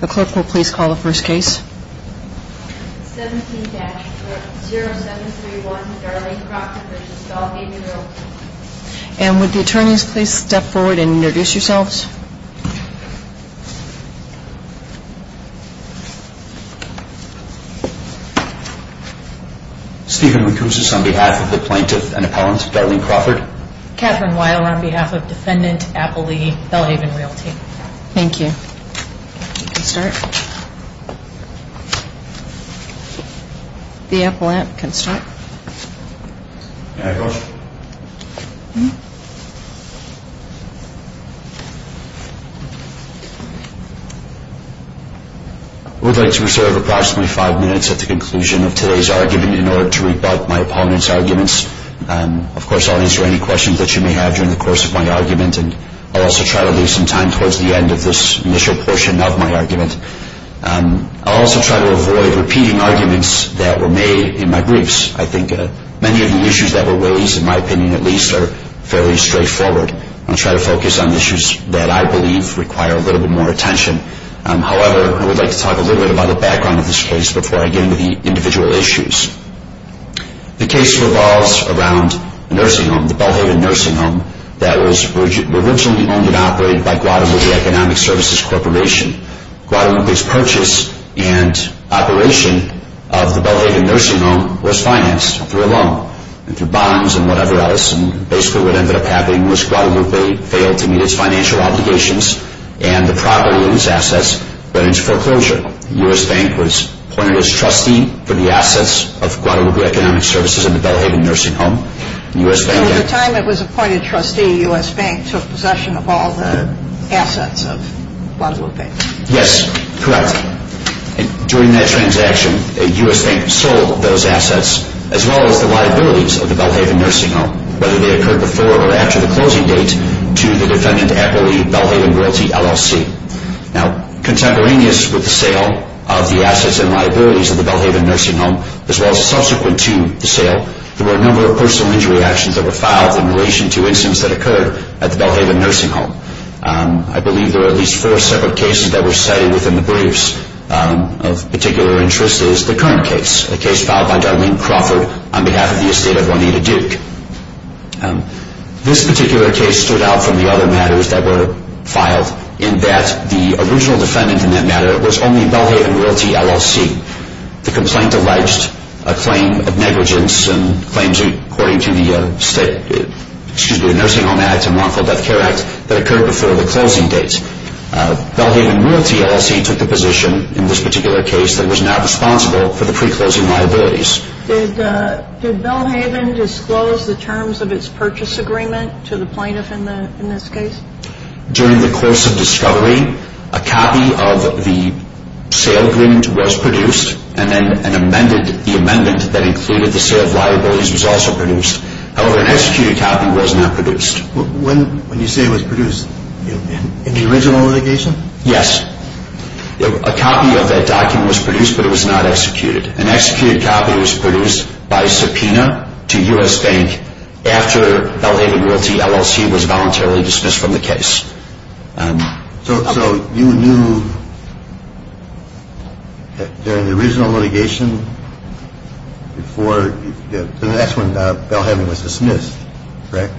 The clerk will please call the first case 17-0731 Darlene Crawford v. Belhaven Realty And would the attorneys please step forward and introduce yourselves Steven Rucuzis on behalf of the plaintiff and appellant Darlene Crawford Kathryn Weiler on behalf of defendant appellee Belhaven Realty I would like to reserve approximately five minutes at the conclusion of today's argument in order to rebut my opponent's arguments Of course I'll answer any questions that you may have during the course of my argument And I'll also try to leave some time towards the end of this initial portion of my argument I'll also try to avoid repeating arguments that were made in my briefs I think many of the issues that were raised, in my opinion at least, are fairly straightforward I'll try to focus on issues that I believe require a little bit more attention However, I would like to talk a little bit about the background of this case before I get into the individual issues The case revolves around a nursing home, the Belhaven Nursing Home That was originally owned and operated by Guadalupe Economic Services Corporation Guadalupe's purchase and operation of the Belhaven Nursing Home was financed through a loan And through bonds and whatever else And basically what ended up happening was Guadalupe failed to meet its financial obligations And the property and its assets went into foreclosure The U.S. Bank was appointed as trustee for the assets of Guadalupe Economic Services and the Belhaven Nursing Home At the time it was appointed trustee, the U.S. Bank took possession of all the assets of Guadalupe Yes, correct During that transaction, the U.S. Bank sold those assets as well as the liabilities of the Belhaven Nursing Home Whether they occurred before or after the closing date to the Defendant Equity Belhaven Royalty LLC Contemporaneous with the sale of the assets and liabilities of the Belhaven Nursing Home As well as subsequent to the sale, there were a number of personal injury actions that were filed In relation to incidents that occurred at the Belhaven Nursing Home I believe there were at least four separate cases that were cited within the briefs Of particular interest is the current case, a case filed by Darlene Crawford on behalf of the estate of Juanita Duke This particular case stood out from the other matters that were filed In that the original defendant in that matter was only Belhaven Royalty LLC The complaint alleged a claim of negligence and claims according to the Nursing Home Act and Lawful Death Care Act That occurred before the closing date Belhaven Royalty LLC took the position in this particular case that it was not responsible for the pre-closing liabilities Did Belhaven disclose the terms of its purchase agreement to the plaintiff in this case? During the course of discovery, a copy of the sale agreement was produced And then the amendment that included the sale of liabilities was also produced However, an executed copy was not produced When you say it was produced, in the original litigation? Yes, a copy of that document was produced but it was not executed An executed copy was produced by subpoena to U.S. Bank after Belhaven Royalty LLC was voluntarily dismissed from the case So you knew during the original litigation, the next one, Belhaven was dismissed, correct?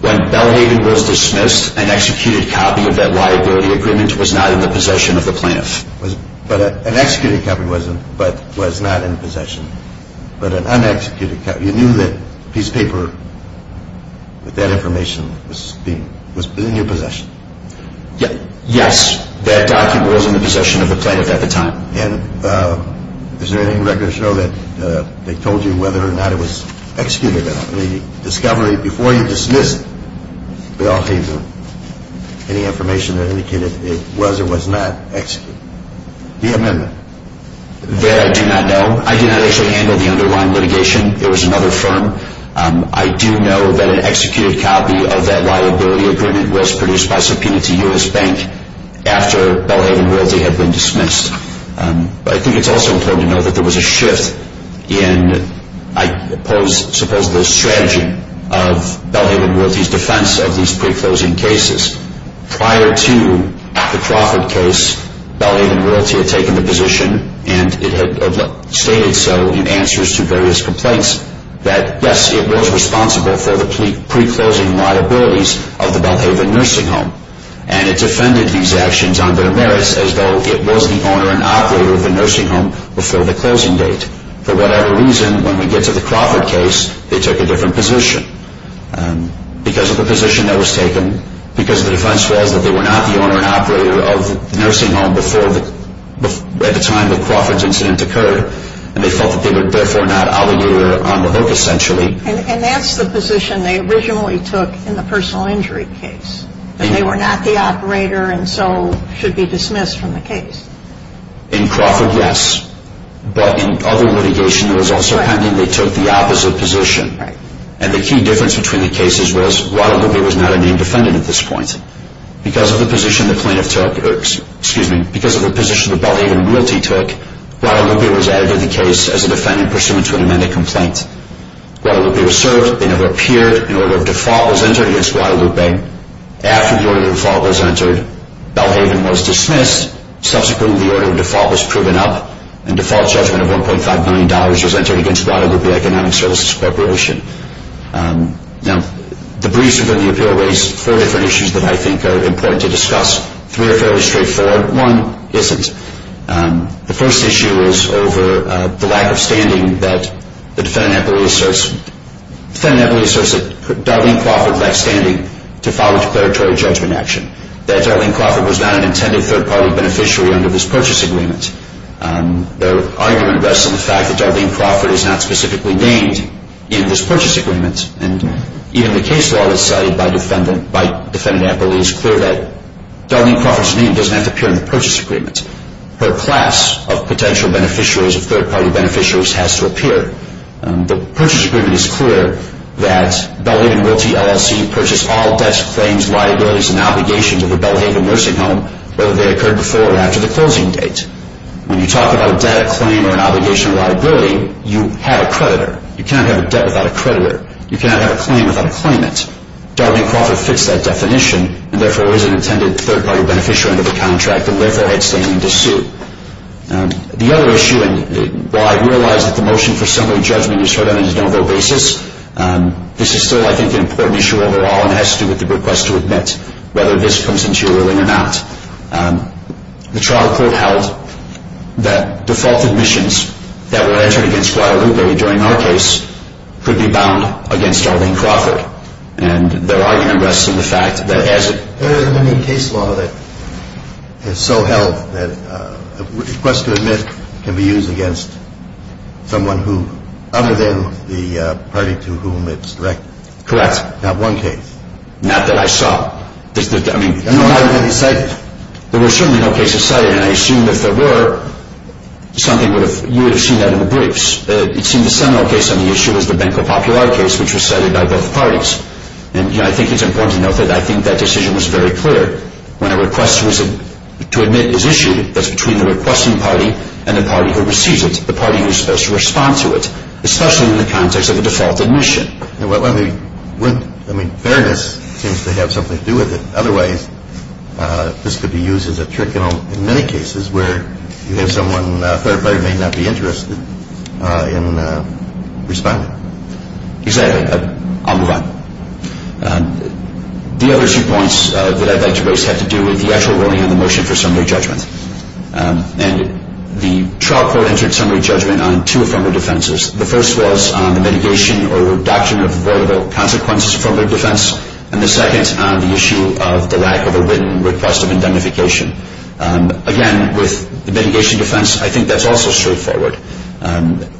When Belhaven was dismissed, an executed copy of that liability agreement was not in the possession of the plaintiff An executed copy was not in possession But an un-executed copy, you knew that piece of paper with that information was in your possession? Yes, that document was in the possession of the plaintiff at the time And is there any record to show that they told you whether or not it was executed? The discovery before you dismissed Belhaven, any information that indicated it was or was not executed? The amendment? That I do not know. I did not actually handle the underlying litigation. It was another firm I do know that an executed copy of that liability agreement was produced by subpoena to U.S. Bank After Belhaven Royalty had been dismissed I think it's also important to note that there was a shift in, I suppose, the strategy of Belhaven Royalty's defense of these pre-closing cases Prior to the Crawford case, Belhaven Royalty had taken the position, and it had stated so in answers to various complaints That yes, it was responsible for the pre-closing liabilities of the Belhaven Nursing Home And it defended these actions on their merits as though it was the owner and operator of the nursing home before the closing date For whatever reason, when we get to the Crawford case, they took a different position Because of the position that was taken, because the defense was that they were not the owner and operator of the nursing home At the time the Crawford incident occurred, and they felt that they were therefore not obligated on the hook essentially And that's the position they originally took in the personal injury case That they were not the operator and so should be dismissed from the case In Crawford, yes, but in other litigation it was also pending they took the opposite position And the key difference between the cases was Guadalupe was not a named defendant at this point Because of the position the plaintiff took, excuse me, because of the position that Belhaven Royalty took Guadalupe was added to the case as a defendant pursuant to an amended complaint Guadalupe was served, they never appeared, an order of default was entered against Guadalupe After the order of default was entered, Belhaven was dismissed, subsequently the order of default was proven up And default judgment of $1.5 million was entered against Guadalupe Economic Services Corporation Now, the briefs within the appeal raised four different issues that I think are important to discuss Three are fairly straightforward, one isn't The first issue is over the lack of standing that the defendant appellee asserts The defendant appellee asserts that Darlene Crawford lacked standing to file a declaratory judgment action That Darlene Crawford was not an intended third-party beneficiary under this purchase agreement Their argument rests on the fact that Darlene Crawford is not specifically named in this purchase agreement And even the case law that's cited by defendant, by defendant appellee is clear that Her class of potential beneficiaries, of third-party beneficiaries has to appear The purchase agreement is clear that Belhaven Realty LLC purchased all debts, claims, liabilities, and obligations of the Belhaven Nursing Home Whether they occurred before or after the closing date When you talk about a debt, a claim, or an obligation or liability, you have a creditor You cannot have a debt without a creditor You cannot have a claim without a claimant Darlene Crawford fits that definition And therefore is an intended third-party beneficiary under the contract and therefore had standing to sue The other issue, and while I realize that the motion for summary judgment is heard on a no-vote basis This is still, I think, an important issue overall and has to do with the request to admit Whether this comes into your ruling or not The trial court held that default admissions that were entered against Guadalupe during our case Could be bound against Darlene Crawford And their argument rests in the fact that as it There has been a case law that has so held that a request to admit can be used against someone who Other than the party to whom it's directed Correct Not one case Not that I saw There were certainly no cases cited and I assume if there were, you would have seen that in the briefs It seemed the seminal case on the issue was the Banco Popular case which was cited by both parties And I think it's important to note that I think that decision was very clear When a request to admit is issued, that's between the requesting party and the party who receives it The party who's supposed to respond to it Especially in the context of a default admission Fairness seems to have something to do with it Otherwise, this could be used as a trick in many cases Where you have someone who may or may not be interested in responding Exactly, I'll move on The other two points that I'd like to raise have to do with the actual ruling on the motion for summary judgment And the trial court entered summary judgment on two affirmative defenses The first was on the mitigation or reduction of the vulnerable consequences affirmative defense And the second on the issue of the lack of a written request of indemnification Again, with the mitigation defense, I think that's also straightforward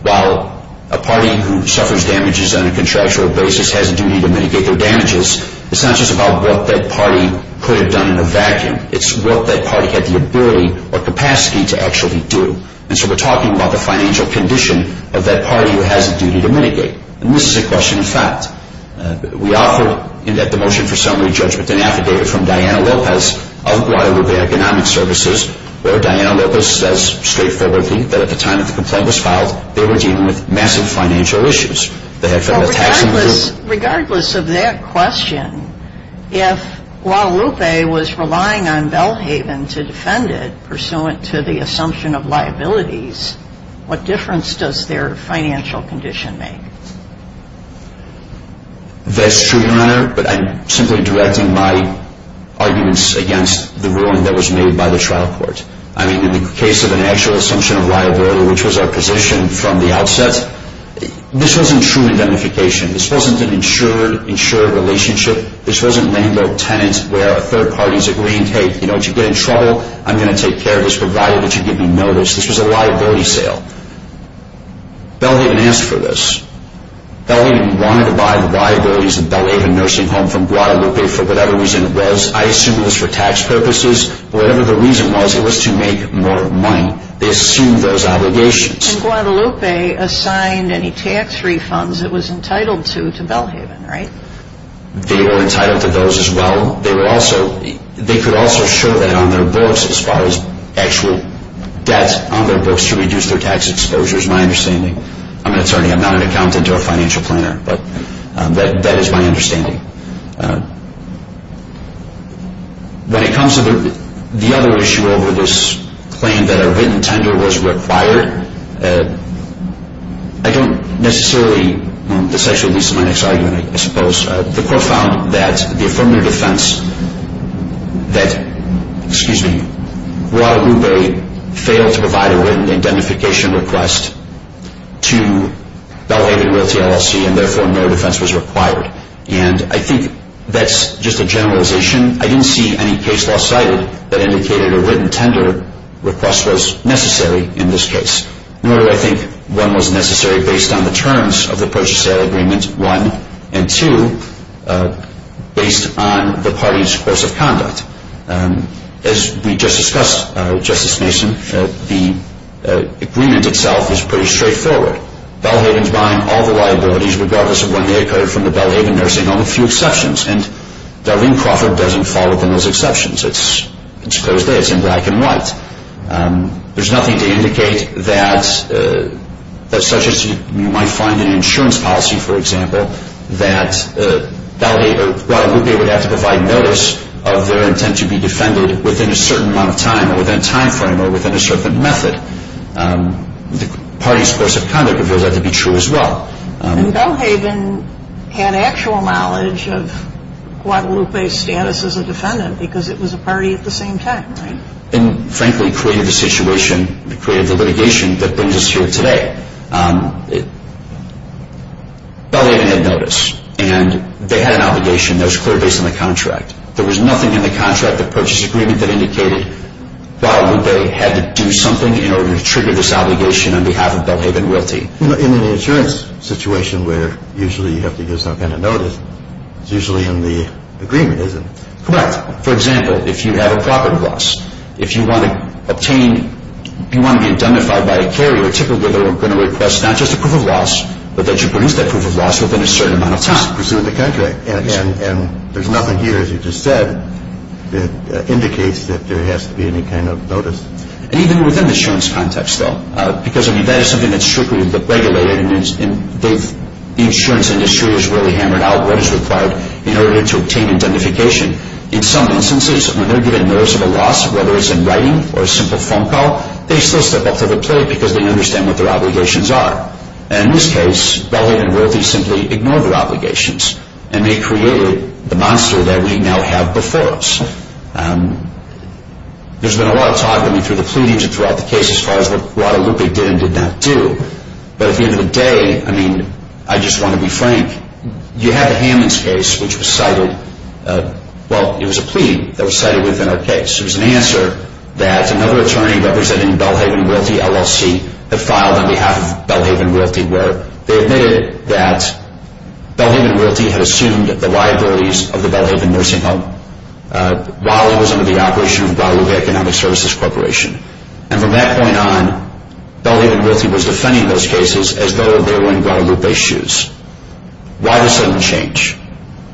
While a party who suffers damages on a contractual basis has a duty to mitigate their damages It's not just about what that party could have done in a vacuum It's what that party had the ability or capacity to actually do And so we're talking about the financial condition of that party who has a duty to mitigate And this is a question of fact We offer in that motion for summary judgment an affidavit from Diana Lopez of Guadalupe Economic Services Where Diana Lopez says straightforwardly that at the time that the complaint was filed They were dealing with massive financial issues Regardless of that question, if Guadalupe was relying on Belhaven to defend it Pursuant to the assumption of liabilities, what difference does their financial condition make? That's true, Your Honor But I'm simply directing my arguments against the ruling that was made by the trial court I mean, in the case of an actual assumption of liability, which was our position from the outset This wasn't true indemnification This wasn't an insured-insured relationship This wasn't letting the tenant where a third party is agreeing Hey, you know, if you get in trouble, I'm going to take care of this provided that you give me notice This was a liability sale Belhaven asked for this Belhaven wanted to buy the liabilities of Belhaven Nursing Home from Guadalupe for whatever reason it was I assume it was for tax purposes Whatever the reason was, it was to make more money They assumed those obligations And Guadalupe assigned any tax refunds it was entitled to to Belhaven, right? They were entitled to those as well They could also show that on their books as far as actual debt on their books to reduce their tax exposure It's my understanding I'm an attorney, I'm not an accountant or a financial planner But that is my understanding When it comes to the other issue over this claim that a written tender was required I don't necessarily... This actually leads to my next argument, I suppose The court found that the affirmative defense that Guadalupe failed to provide a written identification request to Belhaven Realty LLC and therefore no defense was required And I think that's just a generalization I didn't see any case law cited that indicated a written tender request was necessary in this case Nor do I think one was necessary based on the terms of the purchase sale agreement, one And two, based on the party's course of conduct As we just discussed, Justice Mason, the agreement itself is pretty straightforward Belhaven's buying all the liabilities regardless of when they occurred from the Belhaven Nursing Only a few exceptions And Darlene Crawford doesn't fall within those exceptions It's a closed case, it's in black and white There's nothing to indicate that, such as you might find in insurance policy, for example That Guadalupe would have to provide notice of their intent to be defended within a certain amount of time Or within a time frame or within a certain method The party's course of conduct reveals that to be true as well And Belhaven had actual knowledge of Guadalupe's status as a defendant Because it was a party at the same time, right? And frankly created the situation, created the litigation that brings us here today Belhaven had notice, and they had an obligation that was clear based on the contract There was nothing in the contract, the purchase agreement, that indicated Why would they have to do something in order to trigger this obligation on behalf of Belhaven Realty In an insurance situation where usually you have to give some kind of notice It's usually in the agreement, isn't it? Correct. For example, if you have a property loss If you want to obtain, if you want to be identified by a carrier Typically they're going to request not just a proof of loss But that you produce that proof of loss within a certain amount of time It's just pursuing the contract And there's nothing here, as you just said, that indicates that there has to be any kind of notice And even within the insurance context, though Because, I mean, that is something that's strictly regulated The insurance industry has really hammered out what is required in order to obtain identification In some instances, when they're given notice of a loss Whether it's in writing or a simple phone call They still step up to the plate because they understand what their obligations are And in this case, Belhaven Realty simply ignored their obligations And they created the monster that we now have before us There's been a lot of talk, I mean, through the pleadings and throughout the case As far as what Guadalupe did and did not do But at the end of the day, I mean, I just want to be frank You have the Hammonds case, which was cited Well, it was a plea that was cited within our case It was an answer that another attorney representing Belhaven Realty, LLC Had filed on behalf of Belhaven Realty Where they admitted that Belhaven Realty had assumed the liabilities of the Belhaven Nursing Home While it was under the operation of Guadalupe Economic Services Corporation And from that point on, Belhaven Realty was defending those cases As though they were in Guadalupe's shoes Why this sudden change?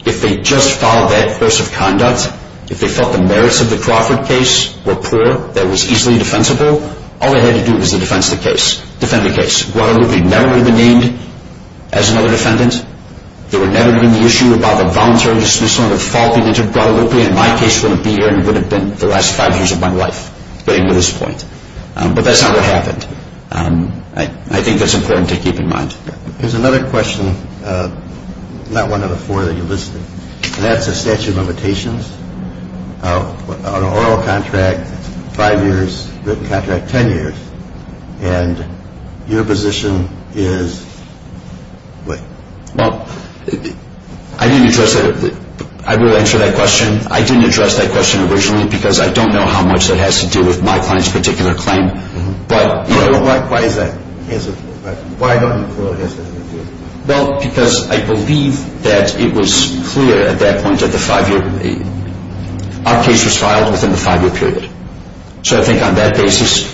If they just followed that course of conduct If they felt the merits of the Crawford case were poor That it was easily defensible All they had to do was to defend the case Guadalupe never would have been named as another defendant There would never have been the issue about the voluntary dismissal And the fault that they took Guadalupe And my case wouldn't be here and it wouldn't have been the last five years of my life Getting to this point But that's not what happened I think that's important to keep in mind There's another question Not one of the four that you listed And that's a statute of limitations On an oral contract, five years Written contract, ten years And your position is what? Well, I didn't address that I will answer that question I didn't address that question originally Because I don't know how much that has to do with my client's particular claim But, you know Why is that? Why don't you call it an oral contract? Well, because I believe that it was clear at that point That the five-year Our case was filed within the five-year period So I think on that basis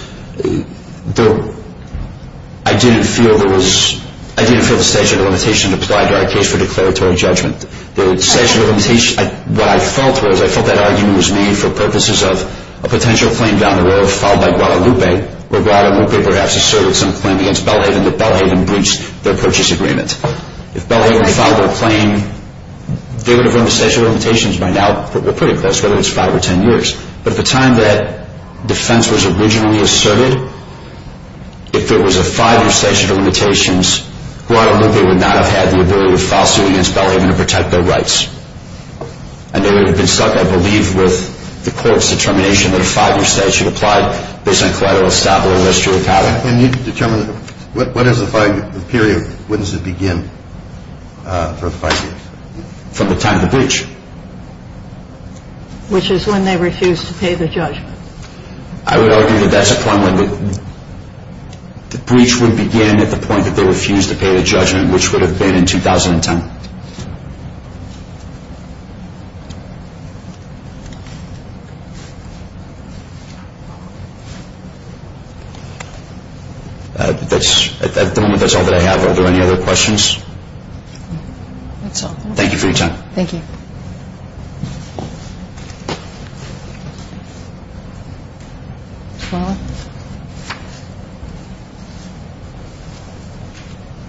I didn't feel there was I didn't feel the statute of limitations applied to our case for declaratory judgment The statute of limitations What I felt was I felt that argument was made for purposes of A potential claim down the road filed by Guadalupe Where Guadalupe perhaps asserted some claim against Belhaven That Belhaven breached their purchase agreement If Belhaven filed their claim They would have run the statute of limitations by now Pretty close, whether it's five or ten years But at the time that defense was originally asserted If there was a five-year statute of limitations Guadalupe would not have had the ability to file suit against Belhaven And they would have been stuck, I believe, with the court's determination That a five-year statute applied based on collateral establishment And you determine What is the five-year period? When does it begin for the five years? From the time of the breach Which is when they refused to pay the judgment I would argue that that's a point when The breach would begin at the point that they refused to pay the judgment Which would have been in 2010 At the moment, that's all that I have Are there any other questions? That's all Thank you for your time Thank you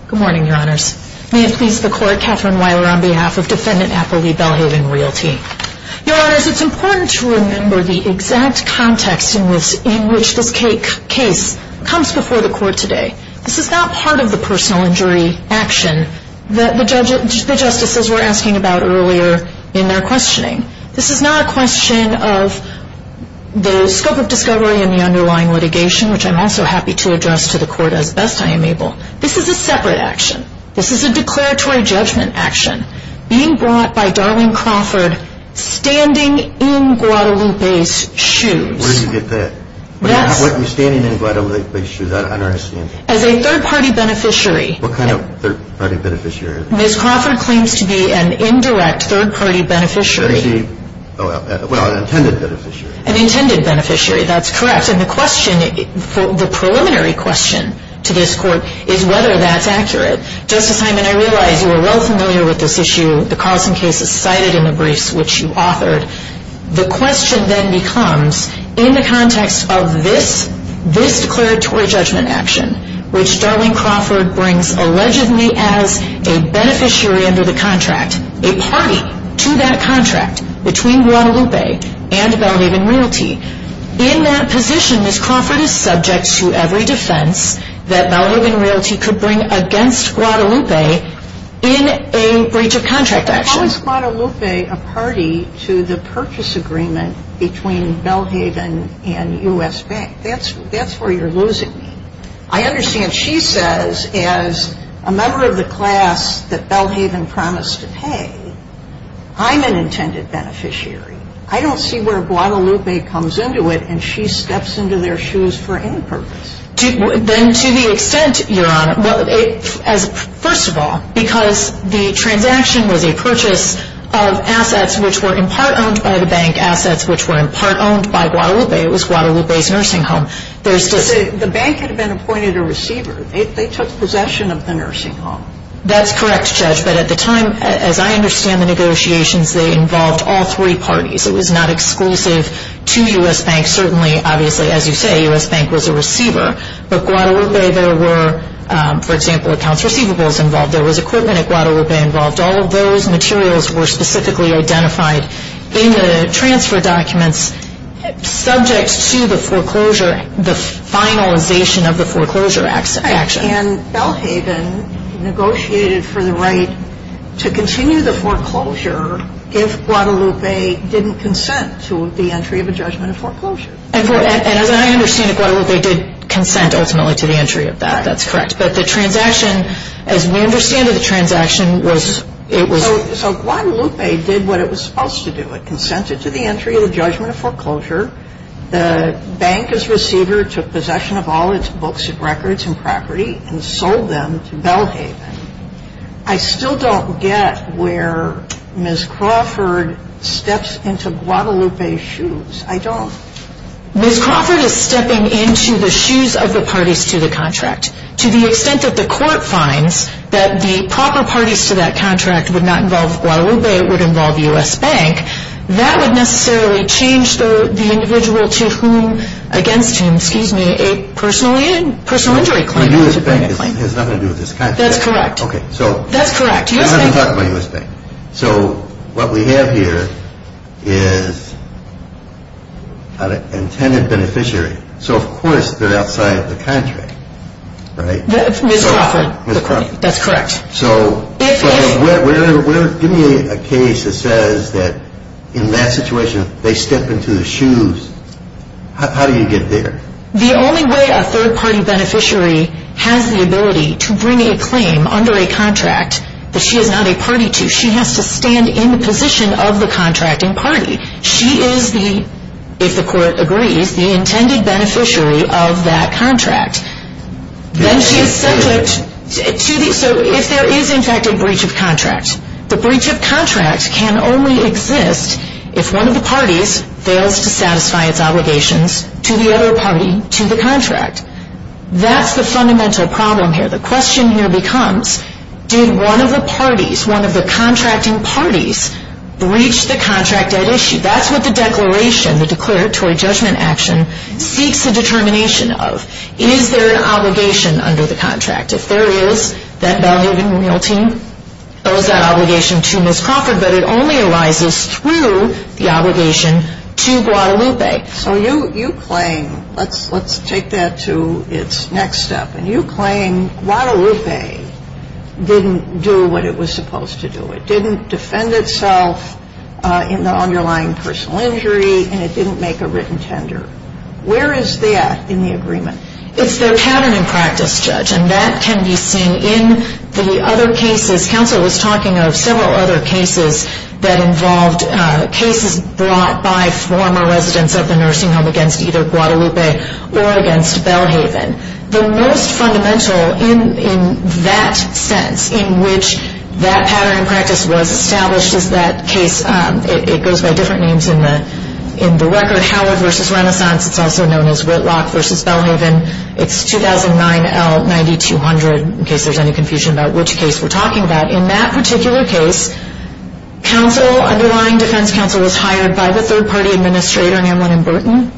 Good morning, your honors May it please the court Catherine Weiler on behalf of defendant Appleby Belhaven, Realty Your honors, it's important to remember the exact context In which this case comes before the court today This is not part of the personal injury action This is not part of the personal injury action This is not a question of the scope of discovery and the underlying litigation Which I'm also happy to address to the court as best I am able This is a separate action This is a declaratory judgment action Being brought by Darlene Crawford Standing in Guadalupe's shoes Where did you get that? What do you mean standing in Guadalupe's shoes? I don't understand As a third-party beneficiary What kind of third-party beneficiary? Ms. Crawford claims to be an indirect third-party beneficiary Well, an intended beneficiary An intended beneficiary, that's correct And the preliminary question to this court is whether that's accurate Justice Hyman, I realize you are well familiar with this issue The Carlson case is cited in the briefs which you authored The question then becomes In the context of this declaratory judgment action Which Darlene Crawford brings allegedly as a beneficiary under the contract A party to that contract Between Guadalupe and Belhaven Realty In that position, Ms. Crawford is subject to every defense That Belhaven Realty could bring against Guadalupe In a breach of contract action How is Guadalupe a party to the purchase agreement Between Belhaven and U.S. Bank? That's where you're losing me I understand she says As a member of the class that Belhaven promised to pay I'm an intended beneficiary I don't see where Guadalupe comes into it And she steps into their shoes for any purpose Then to the extent, Your Honor First of all, because the transaction was a purchase of assets Which were in part owned by the bank Assets which were in part owned by Guadalupe It was Guadalupe's nursing home The bank had been appointed a receiver They took possession of the nursing home That's correct, Judge But at the time, as I understand the negotiations They involved all three parties It was not exclusive to U.S. Bank Certainly, obviously, as you say, U.S. Bank was a receiver But Guadalupe, there were For example, accounts receivables involved There was equipment at Guadalupe involved All of those materials were specifically identified In the transfer documents Subject to the foreclosure The finalization of the foreclosure action Right, and Belhaven negotiated for the right To continue the foreclosure If Guadalupe didn't consent to the entry of a judgment of foreclosure And as I understand it, Guadalupe did consent ultimately To the entry of that That's correct But the transaction, as we understand it The transaction was So Guadalupe did what it was supposed to do It consented to the entry of the judgment of foreclosure The bank as receiver Took possession of all its books and records and property And sold them to Belhaven I still don't get where Ms. Crawford steps into Guadalupe's shoes I don't Ms. Crawford is stepping into the shoes of the parties to the contract To the extent that the court finds That the proper parties to that contract Would not involve Guadalupe It would involve U.S. Bank That would necessarily change the individual to whom Against him, excuse me, a personal injury claim U.S. Bank has nothing to do with this contract That's correct Okay, so That's correct I'm not even talking about U.S. Bank So what we have here is An intended beneficiary So of course they're outside the contract Right? Ms. Crawford Ms. Crawford That's correct Give me a case that says That in that situation They step into the shoes How do you get there? The only way a third party beneficiary Has the ability to bring a claim under a contract That she is not a party to She has to stand in the position of the contracting party She is the, if the court agrees The intended beneficiary of that contract Then she is subject So if there is in fact a breach of contract The breach of contract can only exist If one of the parties fails to satisfy its obligations To the other party to the contract That's the fundamental problem here The question here becomes Did one of the parties One of the contracting parties Breach the contract at issue That's what the declaration The declaratory judgment action Seeks a determination of Is there an obligation under the contract If there is That value of the real team Owes that obligation to Ms. Crawford But it only arises through The obligation to Guadalupe So you claim Let's take that to its next step And you claim Guadalupe Didn't do what it was supposed to do It didn't defend itself In the underlying personal injury And it didn't make a written tender Where is that in the agreement? It's their pattern in practice Judge And that can be seen In the other cases Counsel was talking of Several other cases That involved Cases brought by former residents Of the nursing home Against either Guadalupe Or against Belhaven The most fundamental In that sense In which that pattern in practice Was established Is that case It goes by different names In the record Howard v. Renaissance It's also known as Whitlock v. Belhaven It's 2009 L. 9200 In case there's any confusion About which case we're talking about In that particular case Counsel Underlying defense counsel Was hired by the third party administrator Amlin and Burton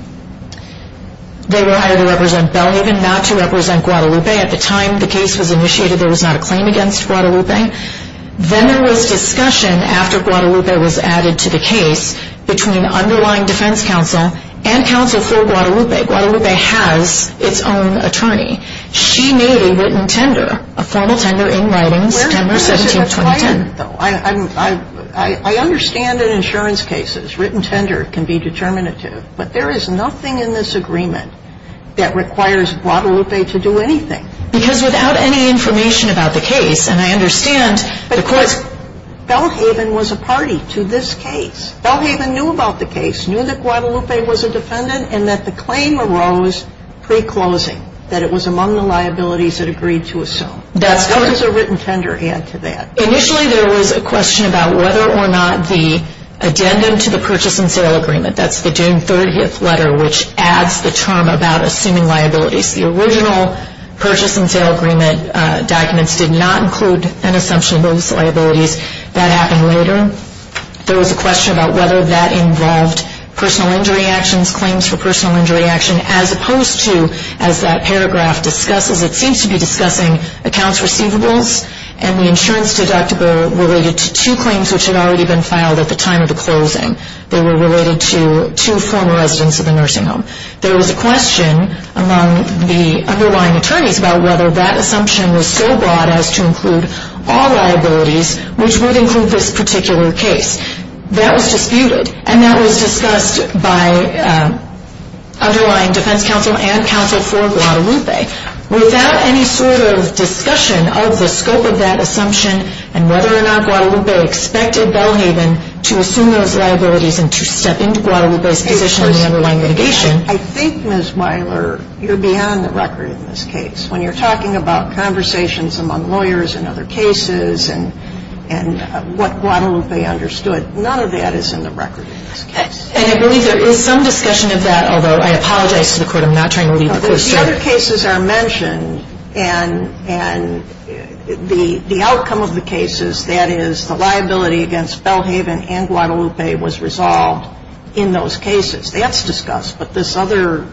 They were hired to represent Belhaven Not to represent Guadalupe At the time the case was initiated There was not a claim against Guadalupe Then there was discussion After Guadalupe was added to the case Between underlying defense counsel And counsel for Guadalupe Guadalupe has its own attorney She made a written tender A formal tender in writing September 17, 2010 I understand in insurance cases Written tender can be determinative But there is nothing in this agreement That requires Guadalupe to do anything Because without any information About the case And I understand Because Belhaven was a party To this case Belhaven knew about the case Knew that Guadalupe was a defendant And that the claim arose pre-closing That it was among the liabilities That agreed to assume How does a written tender add to that? Initially there was a question About whether or not the Addendum to the purchase and sale agreement That's the June 30th letter Which adds the term About assuming liabilities The original purchase and sale agreement Documents did not include An assumption of those liabilities That happened later There was a question about Whether that involved Personal injury actions Claims for personal injury action As opposed to As that paragraph discusses It seems to be discussing Accounts receivables And the insurance deductible Related to two claims Which had already been filed At the time of the closing They were related to Two former residents of the nursing home There was a question Among the underlying attorneys About whether that assumption Was so broad as to include All liabilities Which would include this particular case That was disputed And that was discussed By underlying defense counsel And counsel for Guadalupe Without any sort of discussion Of the scope of that assumption And whether or not Guadalupe Expected Belhaven To assume those liabilities And to step into Guadalupe's position In the underlying litigation I think Ms. Weiler You're beyond the record in this case When you're talking about Conversations among lawyers And other cases And what Guadalupe understood None of that is in the record In this case And I believe there is Some discussion of that Although I apologize to the Court I'm not trying to leave the Court The other cases are mentioned And the outcome of the cases That is the liability Against Belhaven and Guadalupe Was resolved in those cases That's discussed But these other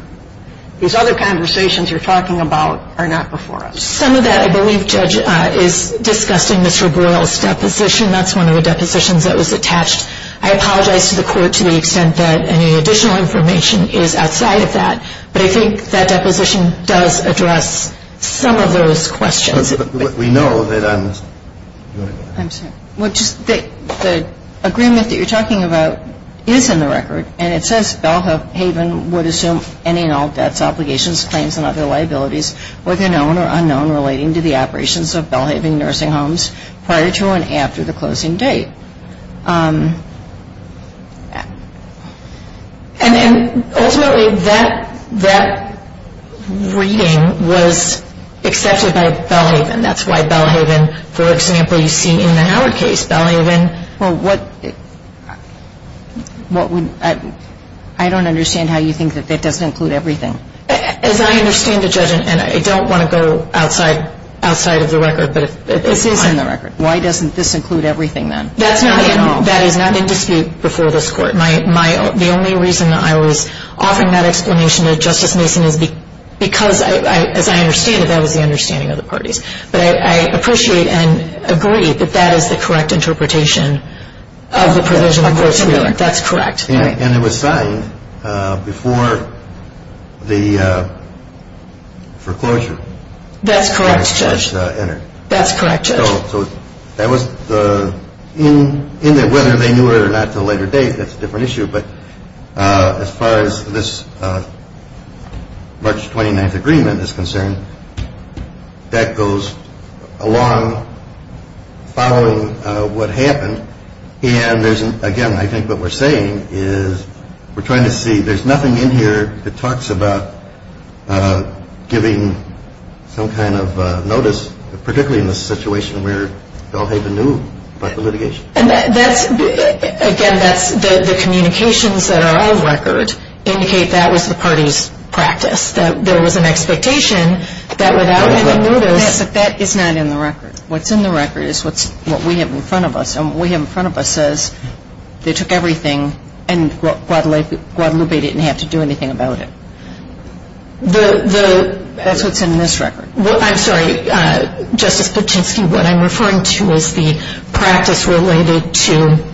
conversations You're talking about Are not before us Some of that I believe Judge is discussing Mr. Burrell's deposition That's one of the depositions That was attached I apologize to the Court To the extent that Any additional information Is outside of that But I think that deposition Does address some of those questions But we know that I'm sorry The agreement that you're talking about Is in the record And it says Belhaven would assume Any and all debts, obligations, claims And other liabilities Whether known or unknown Relating to the operations Of Belhaven Nursing Homes Prior to and after the closing date And ultimately That reading Was accepted by Belhaven That's why Belhaven For example You see in the Howard case Belhaven I don't understand How you think That that doesn't include everything As I understand it, Judge And I don't want to go Outside of the record This is in the record Why doesn't this include everything then? That's not in That is not in dispute Before this Court My The only reason I was Offering that explanation To Justice Mason Is because As I understand it That was the understanding Of the parties But I appreciate And agree That that is the correct Interpretation Of the provision Of the court's reading That's correct And it was signed Before the Foreclosure That's correct, Judge That's correct, Judge So That was the In Whether they knew it Or not to a later date That's a different issue But As far as this March 29th agreement Is concerned That goes Along Following What happened And there's Again I think what we're saying Is We're trying to see There's nothing in here That talks about Giving Some kind of Notice Particularly in this situation Where they all Even knew About the litigation And that's Again That's The communications That are on record Indicate that was the Party's practice That there was an Expectation That without Any notice Yes, but that is not In the record What's in the record Is what we have In front of us And what we have In front of us Says They took everything And Guadalupe Didn't have to do Anything about it The That's what's in This record I'm sorry Justice Patinsky What I'm referring to Is the Practice Related to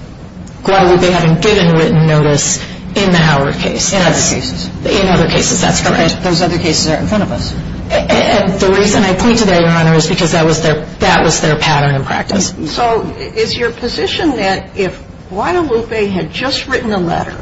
Guadalupe Having given written Notice In the Howard case In other cases In other cases That's correct Those other cases Are in front of us And the reason I point to that Your Honor Is because that was Their pattern and practice So is your position That if Guadalupe Had just written a letter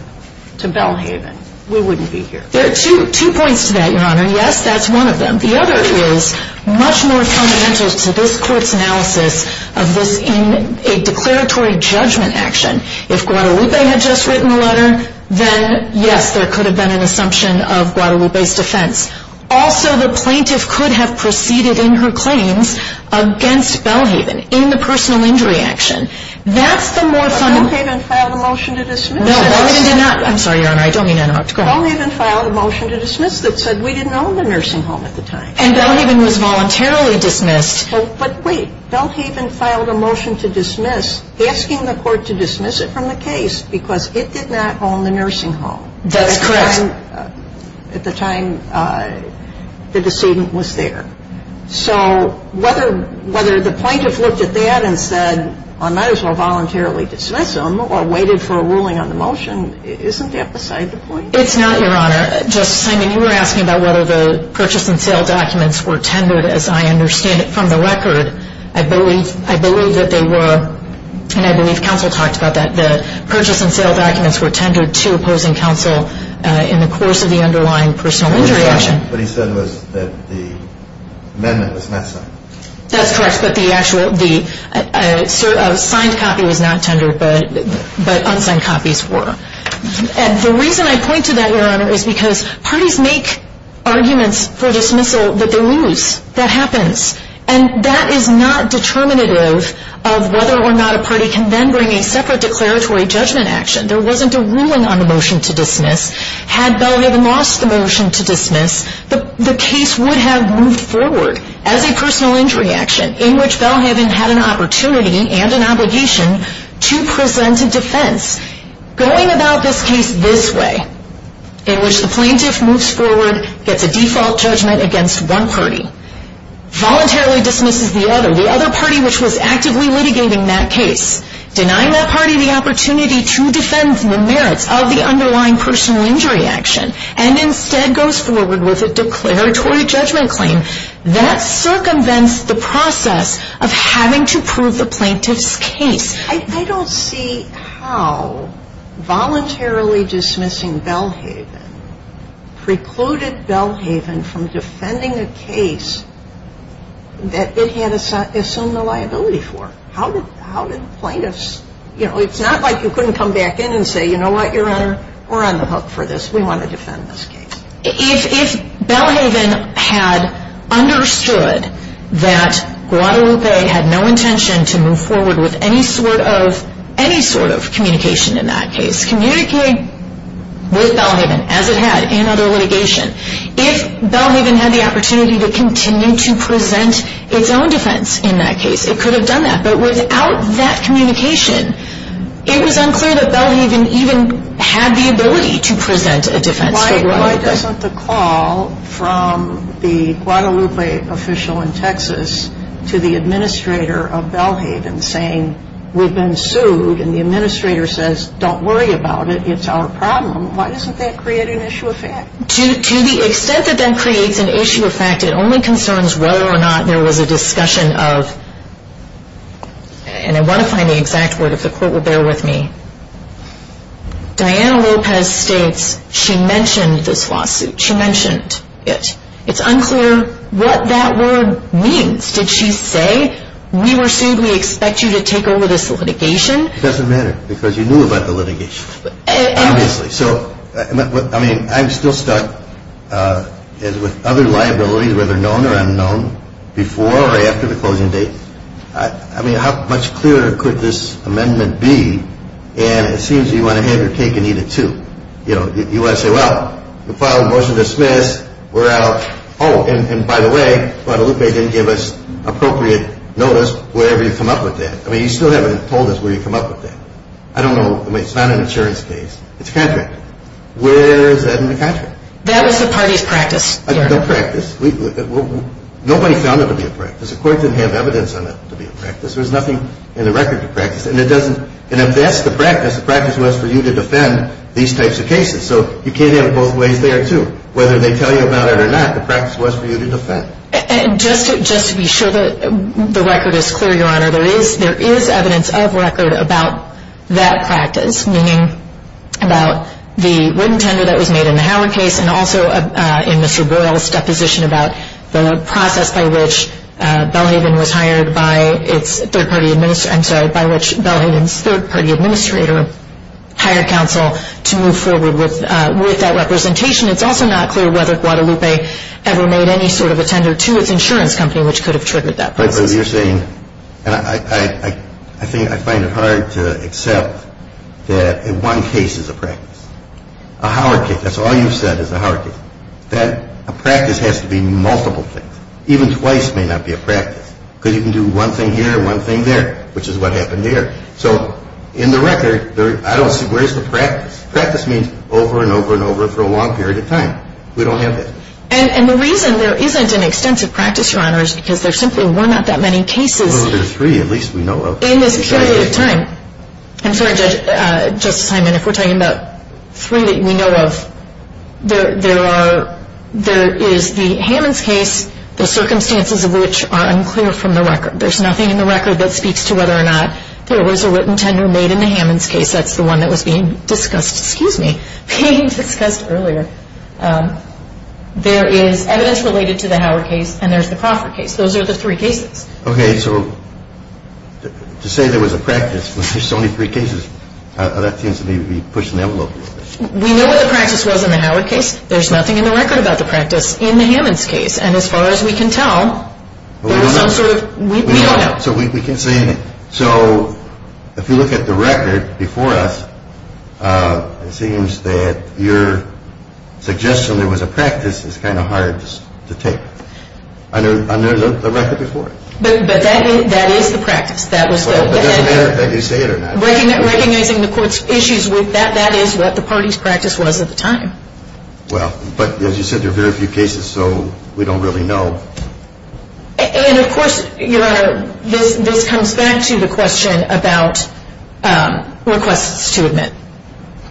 To Belhaven We wouldn't be here There are two Two points to that Your Honor One is Had just written a letter To Belhaven Yes that's one of them The other is Much more fundamental To this court's analysis Of this In a declaratory Judgment action If Guadalupe Had just written a letter Then yes There could have been An assumption Of Guadalupe's defense Also the plaintiff Could have proceeded In her claims Against Belhaven In the personal injury action That's the more But Belhaven Filed a motion To dismiss No Belhaven did not I'm sorry Your Honor I don't mean to interrupt Belhaven filed a motion To dismiss That said we didn't own The nursing home At the time And Belhaven was Voluntarily dismissed But wait Belhaven filed a motion To dismiss Asking the court To dismiss it From the case Because it did not Own the nursing home That's correct At the time The decedent was there The plaintiff Looked at that And said I might as well Voluntarily dismiss him Or waited for a ruling On the motion Isn't that beside The point It's not It's not Your Honor Justice Simon You were asking About whether the Purchase and sale documents Were tendered As I understand it From the record I believe I believe that they were And I believe Counsel talked about that The purchase and sale documents Were tendered To opposing counsel In the course Of the underlying Personal injury action What he said was That the amendment Was not signed That's correct But the actual The Signed copy Was not tendered But unsigned copies were And the reason I point to that Your Honor Is because Parties make Arguments for dismissal That they lose That happens And that is not Determinative Of whether or not A party can then Bring a separate Declaratory judgment action There wasn't a ruling On the motion To dismiss Had Belhaven Lost the motion To dismiss The case would have Moved forward As a personal injury action In which Belhaven Had an opportunity And an obligation To present A defense Going about This case This way In which the plaintiff Moves forward Gets a default Judgment against One party Voluntarily Dismisses the other The other party Which was actively Litigating that case Denying that party The opportunity To defend The merits Of the underlying Personal injury action And instead Goes forward With a declaratory Judgment claim That circumvents The process Of having to Prove the plaintiff's Case I don't see How Voluntarily Dismissing Belhaven Precluded Belhaven From defending A case That it had Assumed a liability For How did How did Plaintiffs You know It's not like You couldn't come back in And say You know what Your honor We're on the hook For this We want to Defend this case If Belhaven Had understood That Guadalupe Had no intention To move forward With any sort of Any sort of Defense In that case Communicating With Belhaven As it had In other litigation If Belhaven Had the opportunity To continue To present Its own defense In that case It could have done that But without That communication It was unclear That Belhaven Even had the ability To present A defense Why doesn't The call From the Guadalupe Official in Texas To the administrator Of Belhaven Saying We've been sued And the administrator Says Don't worry about it It's our problem Why doesn't that Create an issue of fact To the extent That that creates An issue of fact It only concerns Whether or not There was a discussion Of And I want to Find the exact word If the court Will bear with me Diana Lopez States She mentioned This lawsuit She mentioned It It's unclear What that word Means Did she say We were sued We expect you To take over This litigation It doesn't matter Because you knew About the litigation Obviously So I mean I'm still stuck As with Other liabilities Whether known Or unknown Before or after The closing date I mean How much clearer Could this amendment Be And it seems You want to Hand your cake And eat it too You know You want to say Well We filed a motion To dismiss We're out Oh And by the way Guadalupe Didn't give us Appropriate notice Wherever you come up With that I mean You still haven't Told us where You come up With that I don't know It's not an insurance Case It's a contract Where is that In the contract That was the Party's practice The practice Nobody found It to be a practice The court Didn't have evidence On it to be a practice There was nothing In the record To practice And it doesn't And if that's the practice The practice was For you to defend These types of cases So you can't have it Both ways there too Whether they tell you About it or not The practice was For you to defend And just To be sure That the record Is clear your honor There is There is evidence Of record About that practice Meaning About the Written tender That was made In the Howard case And also In Mr. Boyle's Deposition about The process By which Belhadin's Third party Administrator Hired counsel To move forward With that representation It's also not clear Whether Guadalupe Ever made any Sort of a tender To its insurance Company which could Have triggered That process But you're saying And I I think I find it hard That in one case Is a practice A Howard case That's all You've said Is a Howard case That a practice Has to be multiple things Even twice May not be a practice Because you can do One thing here And one thing there Which is what happened Here So in the record I don't see Where's the practice Practice means Over and over and over For a long period of time We don't have that And the reason There isn't an extensive Practice your honor Is because there simply Were not that many cases Well there are three At least we know of In this period of time I'm sorry Justice Hyman If we're talking about Three that you know of There are There is the Hammond's case The circumstances Of which are unclear From the record There's nothing in the record That speaks to whether or not There was a written Tenure made in the Hammond's case That's the one That was being discussed Excuse me Being discussed earlier There is evidence Related to the Howard case And there's the Crawford case Those are the three cases Okay so To say there was a practice When there's only three cases That seems to me To be pushing the envelope A little bit Was in the Howard case There's nothing in the record About the practice In the Hammond's case And as far as we can tell There was some sort Of written tenure Made in the Hammond's case So we can't say anything So If you look at the record Before us It seems that Your Suggestion there was a practice Is kind of hard To take Under the record before But that is That is the practice That was the Well it doesn't matter If I do say it or not Recognizing the court's Issues with that That is what the party's Practice was at the time Well but as you said There are very few cases So we don't really know And of course Your Honor This comes back To the question About Requests to admit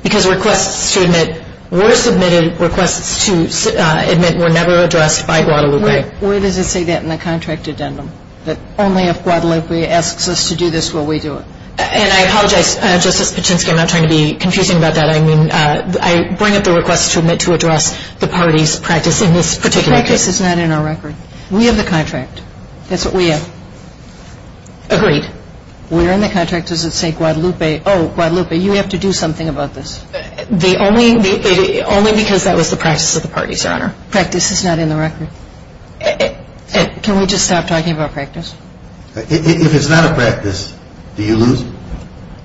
Because requests to admit Were submitted Requests to admit Were never addressed By Guadalupe Where does it say that In the contract addendum That only if Guadalupe Asks us to do this Will we do it And I apologize Justice Patinsky I'm not trying to be Confusing about that I mean I bring up the requests To admit to address The party's practice In this particular case Practice is not in our record We have the contract That's what we have Agreed We're in the contract Does it say Guadalupe Oh Guadalupe You have to do something About this The only Only because that was The practice of the party Your Honor Practice is not in the record Can we just stop Talking about practice If it's not a practice Do you lose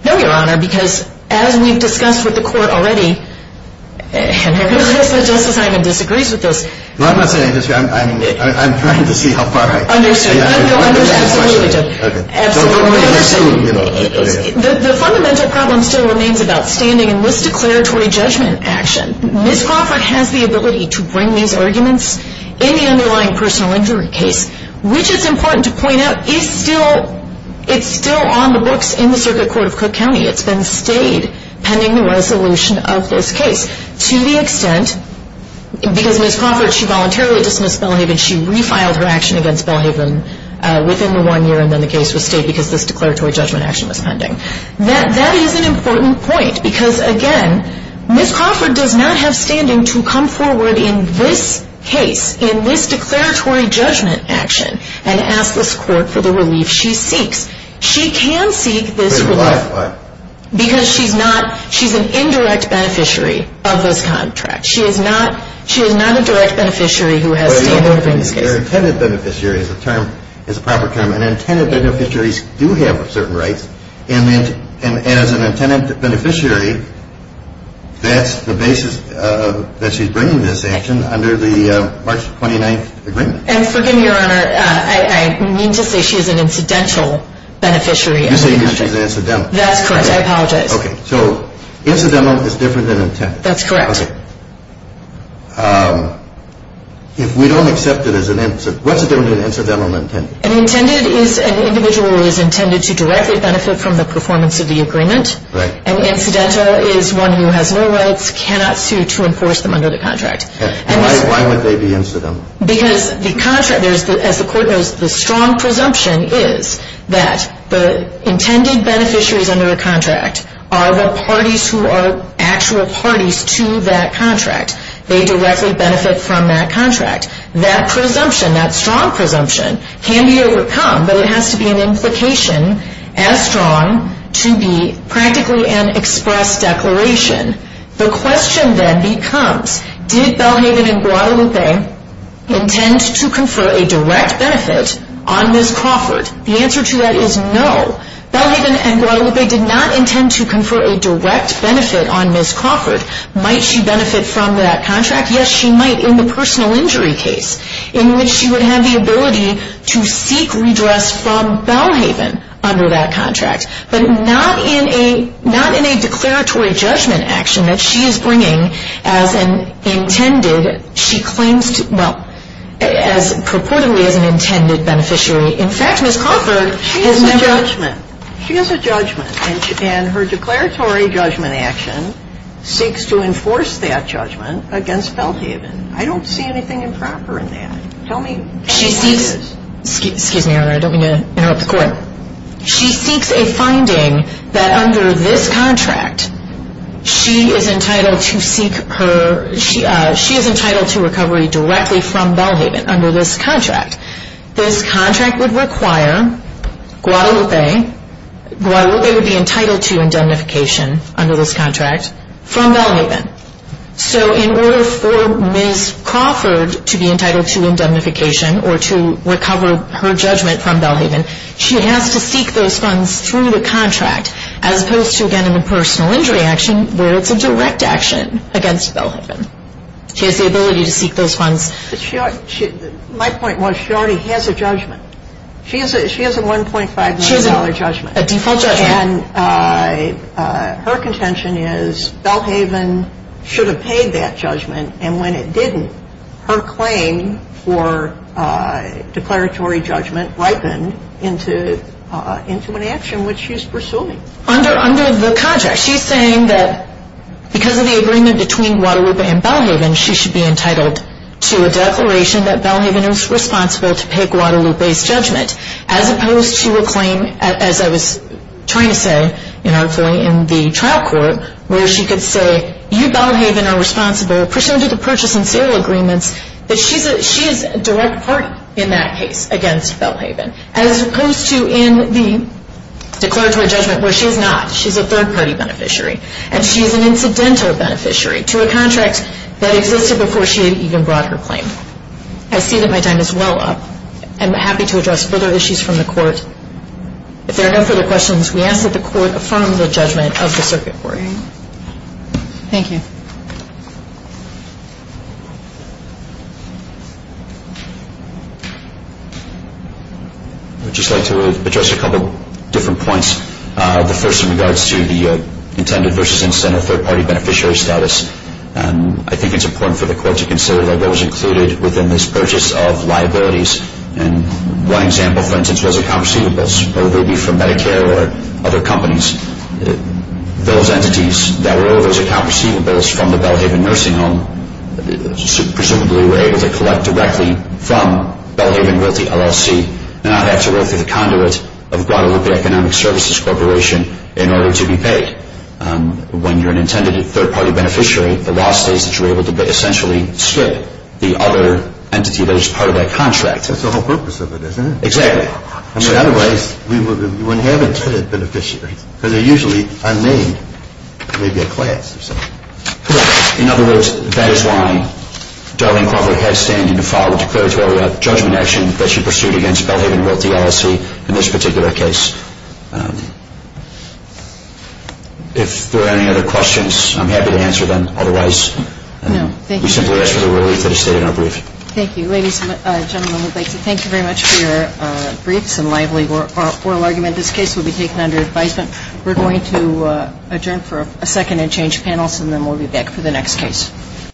No Your Honor Because as we've discussed With the court already And I realize That Justice Hyman Disagrees with this I'm not saying I'm trying to see How far I can go Understood Absolutely The fundamental problem Still remains About standing In this declaratory Judgment action Ms. Crawford Has the ability To bring these arguments In the underlying Personal injury case Which it's important To point out In the circuit court Of Cook County It's been stayed Pending the resolution Of this case To the extent Because Ms. Crawford Has the ability To bring these Arguments She voluntarily Dismissed Belhaven She refiled her action Against Belhaven Within the one year And then the case Was stayed Because this declaratory Judgment action Was pending That is an important point Because again Ms. Crawford Does not have standing To come forward In this case In this declaratory Judgment action And ask this court For the relief She seeks She can seek This relief Why Because she's not She's an indirect Beneficiary Of this contract She is not She is not a direct Beneficiary Who has standing To bring this case Your intended Beneficiary Is a term Is a proper term And intended Beneficiaries Do have certain rights And as an intended Beneficiary That's the basis That she's bringing This action Under the March 29th Agreement And forgive me Your honor I mean to say She's an incidental Beneficiary You're saying She's an incidental That's correct I apologize So incidental Is different than intended That's correct Okay Um If we don't accept it As an incident What's the difference Between incidental and intended An intended is An individual Who is intended To directly benefit From the performance Of the agreement Right An incidental Is one who has no rights Cannot sue To enforce them Under the contract And why Why would they be incidental Because the contract There's the As the court knows The strong presumption Is that The intended Beneficiaries Under a contract Are the parties Who are Actual parties To that contract They directly benefit From that contract That presumption That strong presumption Can be overcome But it has to be An implication As strong To be Practically An express Declaration The question Then becomes Did Belhaven And Guadalupe Intend To confer A direct benefit On Ms. Crawford The answer to that Is no Belhaven And Guadalupe They did not Intend to confer A direct benefit On Ms. Crawford Might she benefit From that contract Yes she might In the personal Injury case In which she would Have the ability To seek redress From Belhaven Under that contract But not In a Not in a Declaratory Judgment action That she is bringing As an Intended She claims to Well As purportedly As an intended Beneficiary In fact Ms. Crawford Has never She has a judgment She has a judgment And her declaratory Judgment action Seeks to enforce That judgment Against Belhaven I don't see anything Improper in that Tell me She seeks Excuse me your honor I don't mean to Interrupt the court She seeks a finding To recovery Directly from Belhaven Under this contract This contract Would require Guadalupe And Ms. Crawford To seek redress From Belhaven Under this contract Guadalupe Guadalupe Would be entitled To indemnification Under this contract From Belhaven So in order For Ms. Crawford To be entitled To indemnification Or to Recover her judgment From Belhaven She has to seek Those funds Through the contract As opposed to Again an impersonal Injury action Where it's a direct Action Against Belhaven She has the ability To seek those funds She My point was She already Has a judgment She has a She has a She has a She has a A default judgment And Her contention Is Belhaven Should have paid That judgment And when it didn't Her claim For Declaratory judgment Ripened Into An action Which she is pursuing Under the contract She's saying That Because of the agreement Between Guadalupe And Belhaven She should be Entitled To a declaration That Belhaven Is responsible To pay Guadalupe's Judgment As opposed to A claim As I was Trying to say In the Trial court Where she could say You Belhaven Are responsible Pursuant to the Purchase and sale Agreements That she is A direct Party In that case Against Belhaven As opposed to In the Declaratory judgment Where she's not She's a third Party beneficiary And she's an Incidental beneficiary To a contract That existed Before she even Brought her claim. I see that my time Is well up. I am happy to Address further Issues from the Court. If there are no Further questions We ask that the Court affirm The judgment Of the circuit Court. Thank you. I would just Like to address A couple Different points. The first In regards To the Intended Versus Incidental Third party Beneficiary Status. I think it's Important for the Court to Consider what Was included Within this Purchase of Liabilities. One example For instance was Account receivables Whether they be From Medicare or Other companies. Those entities That were Those Account receivables From the Belhaven Nursing Home Presumably Were able To collect Directly from Belhaven With the LLC And not Have to Go through The conduit Of Guadalupe Economic Services Corporation In order to Be paid. When you're An intended Third party Beneficiary The law States that You're able To essentially Skip the Other entity That is part Of that Contract. That's the Whole purpose Of it Isn't it? Exactly. I mean Otherwise We wouldn't Have intended Beneficiaries Because they Usually are Named Maybe a class Or something. Correct. In other words That is why Darlene Crawford Had standing To file a Declaratory Judgment Action That she Pursued against Belhaven Realty LLC In this Particular case. If there are Any other Questions I'm happy To answer Them If you A little More To Our Oral Argument This case Will be Taken under Advisement. Going to Adjourn for A second And change Panels. And then We'll Be back For the Next case.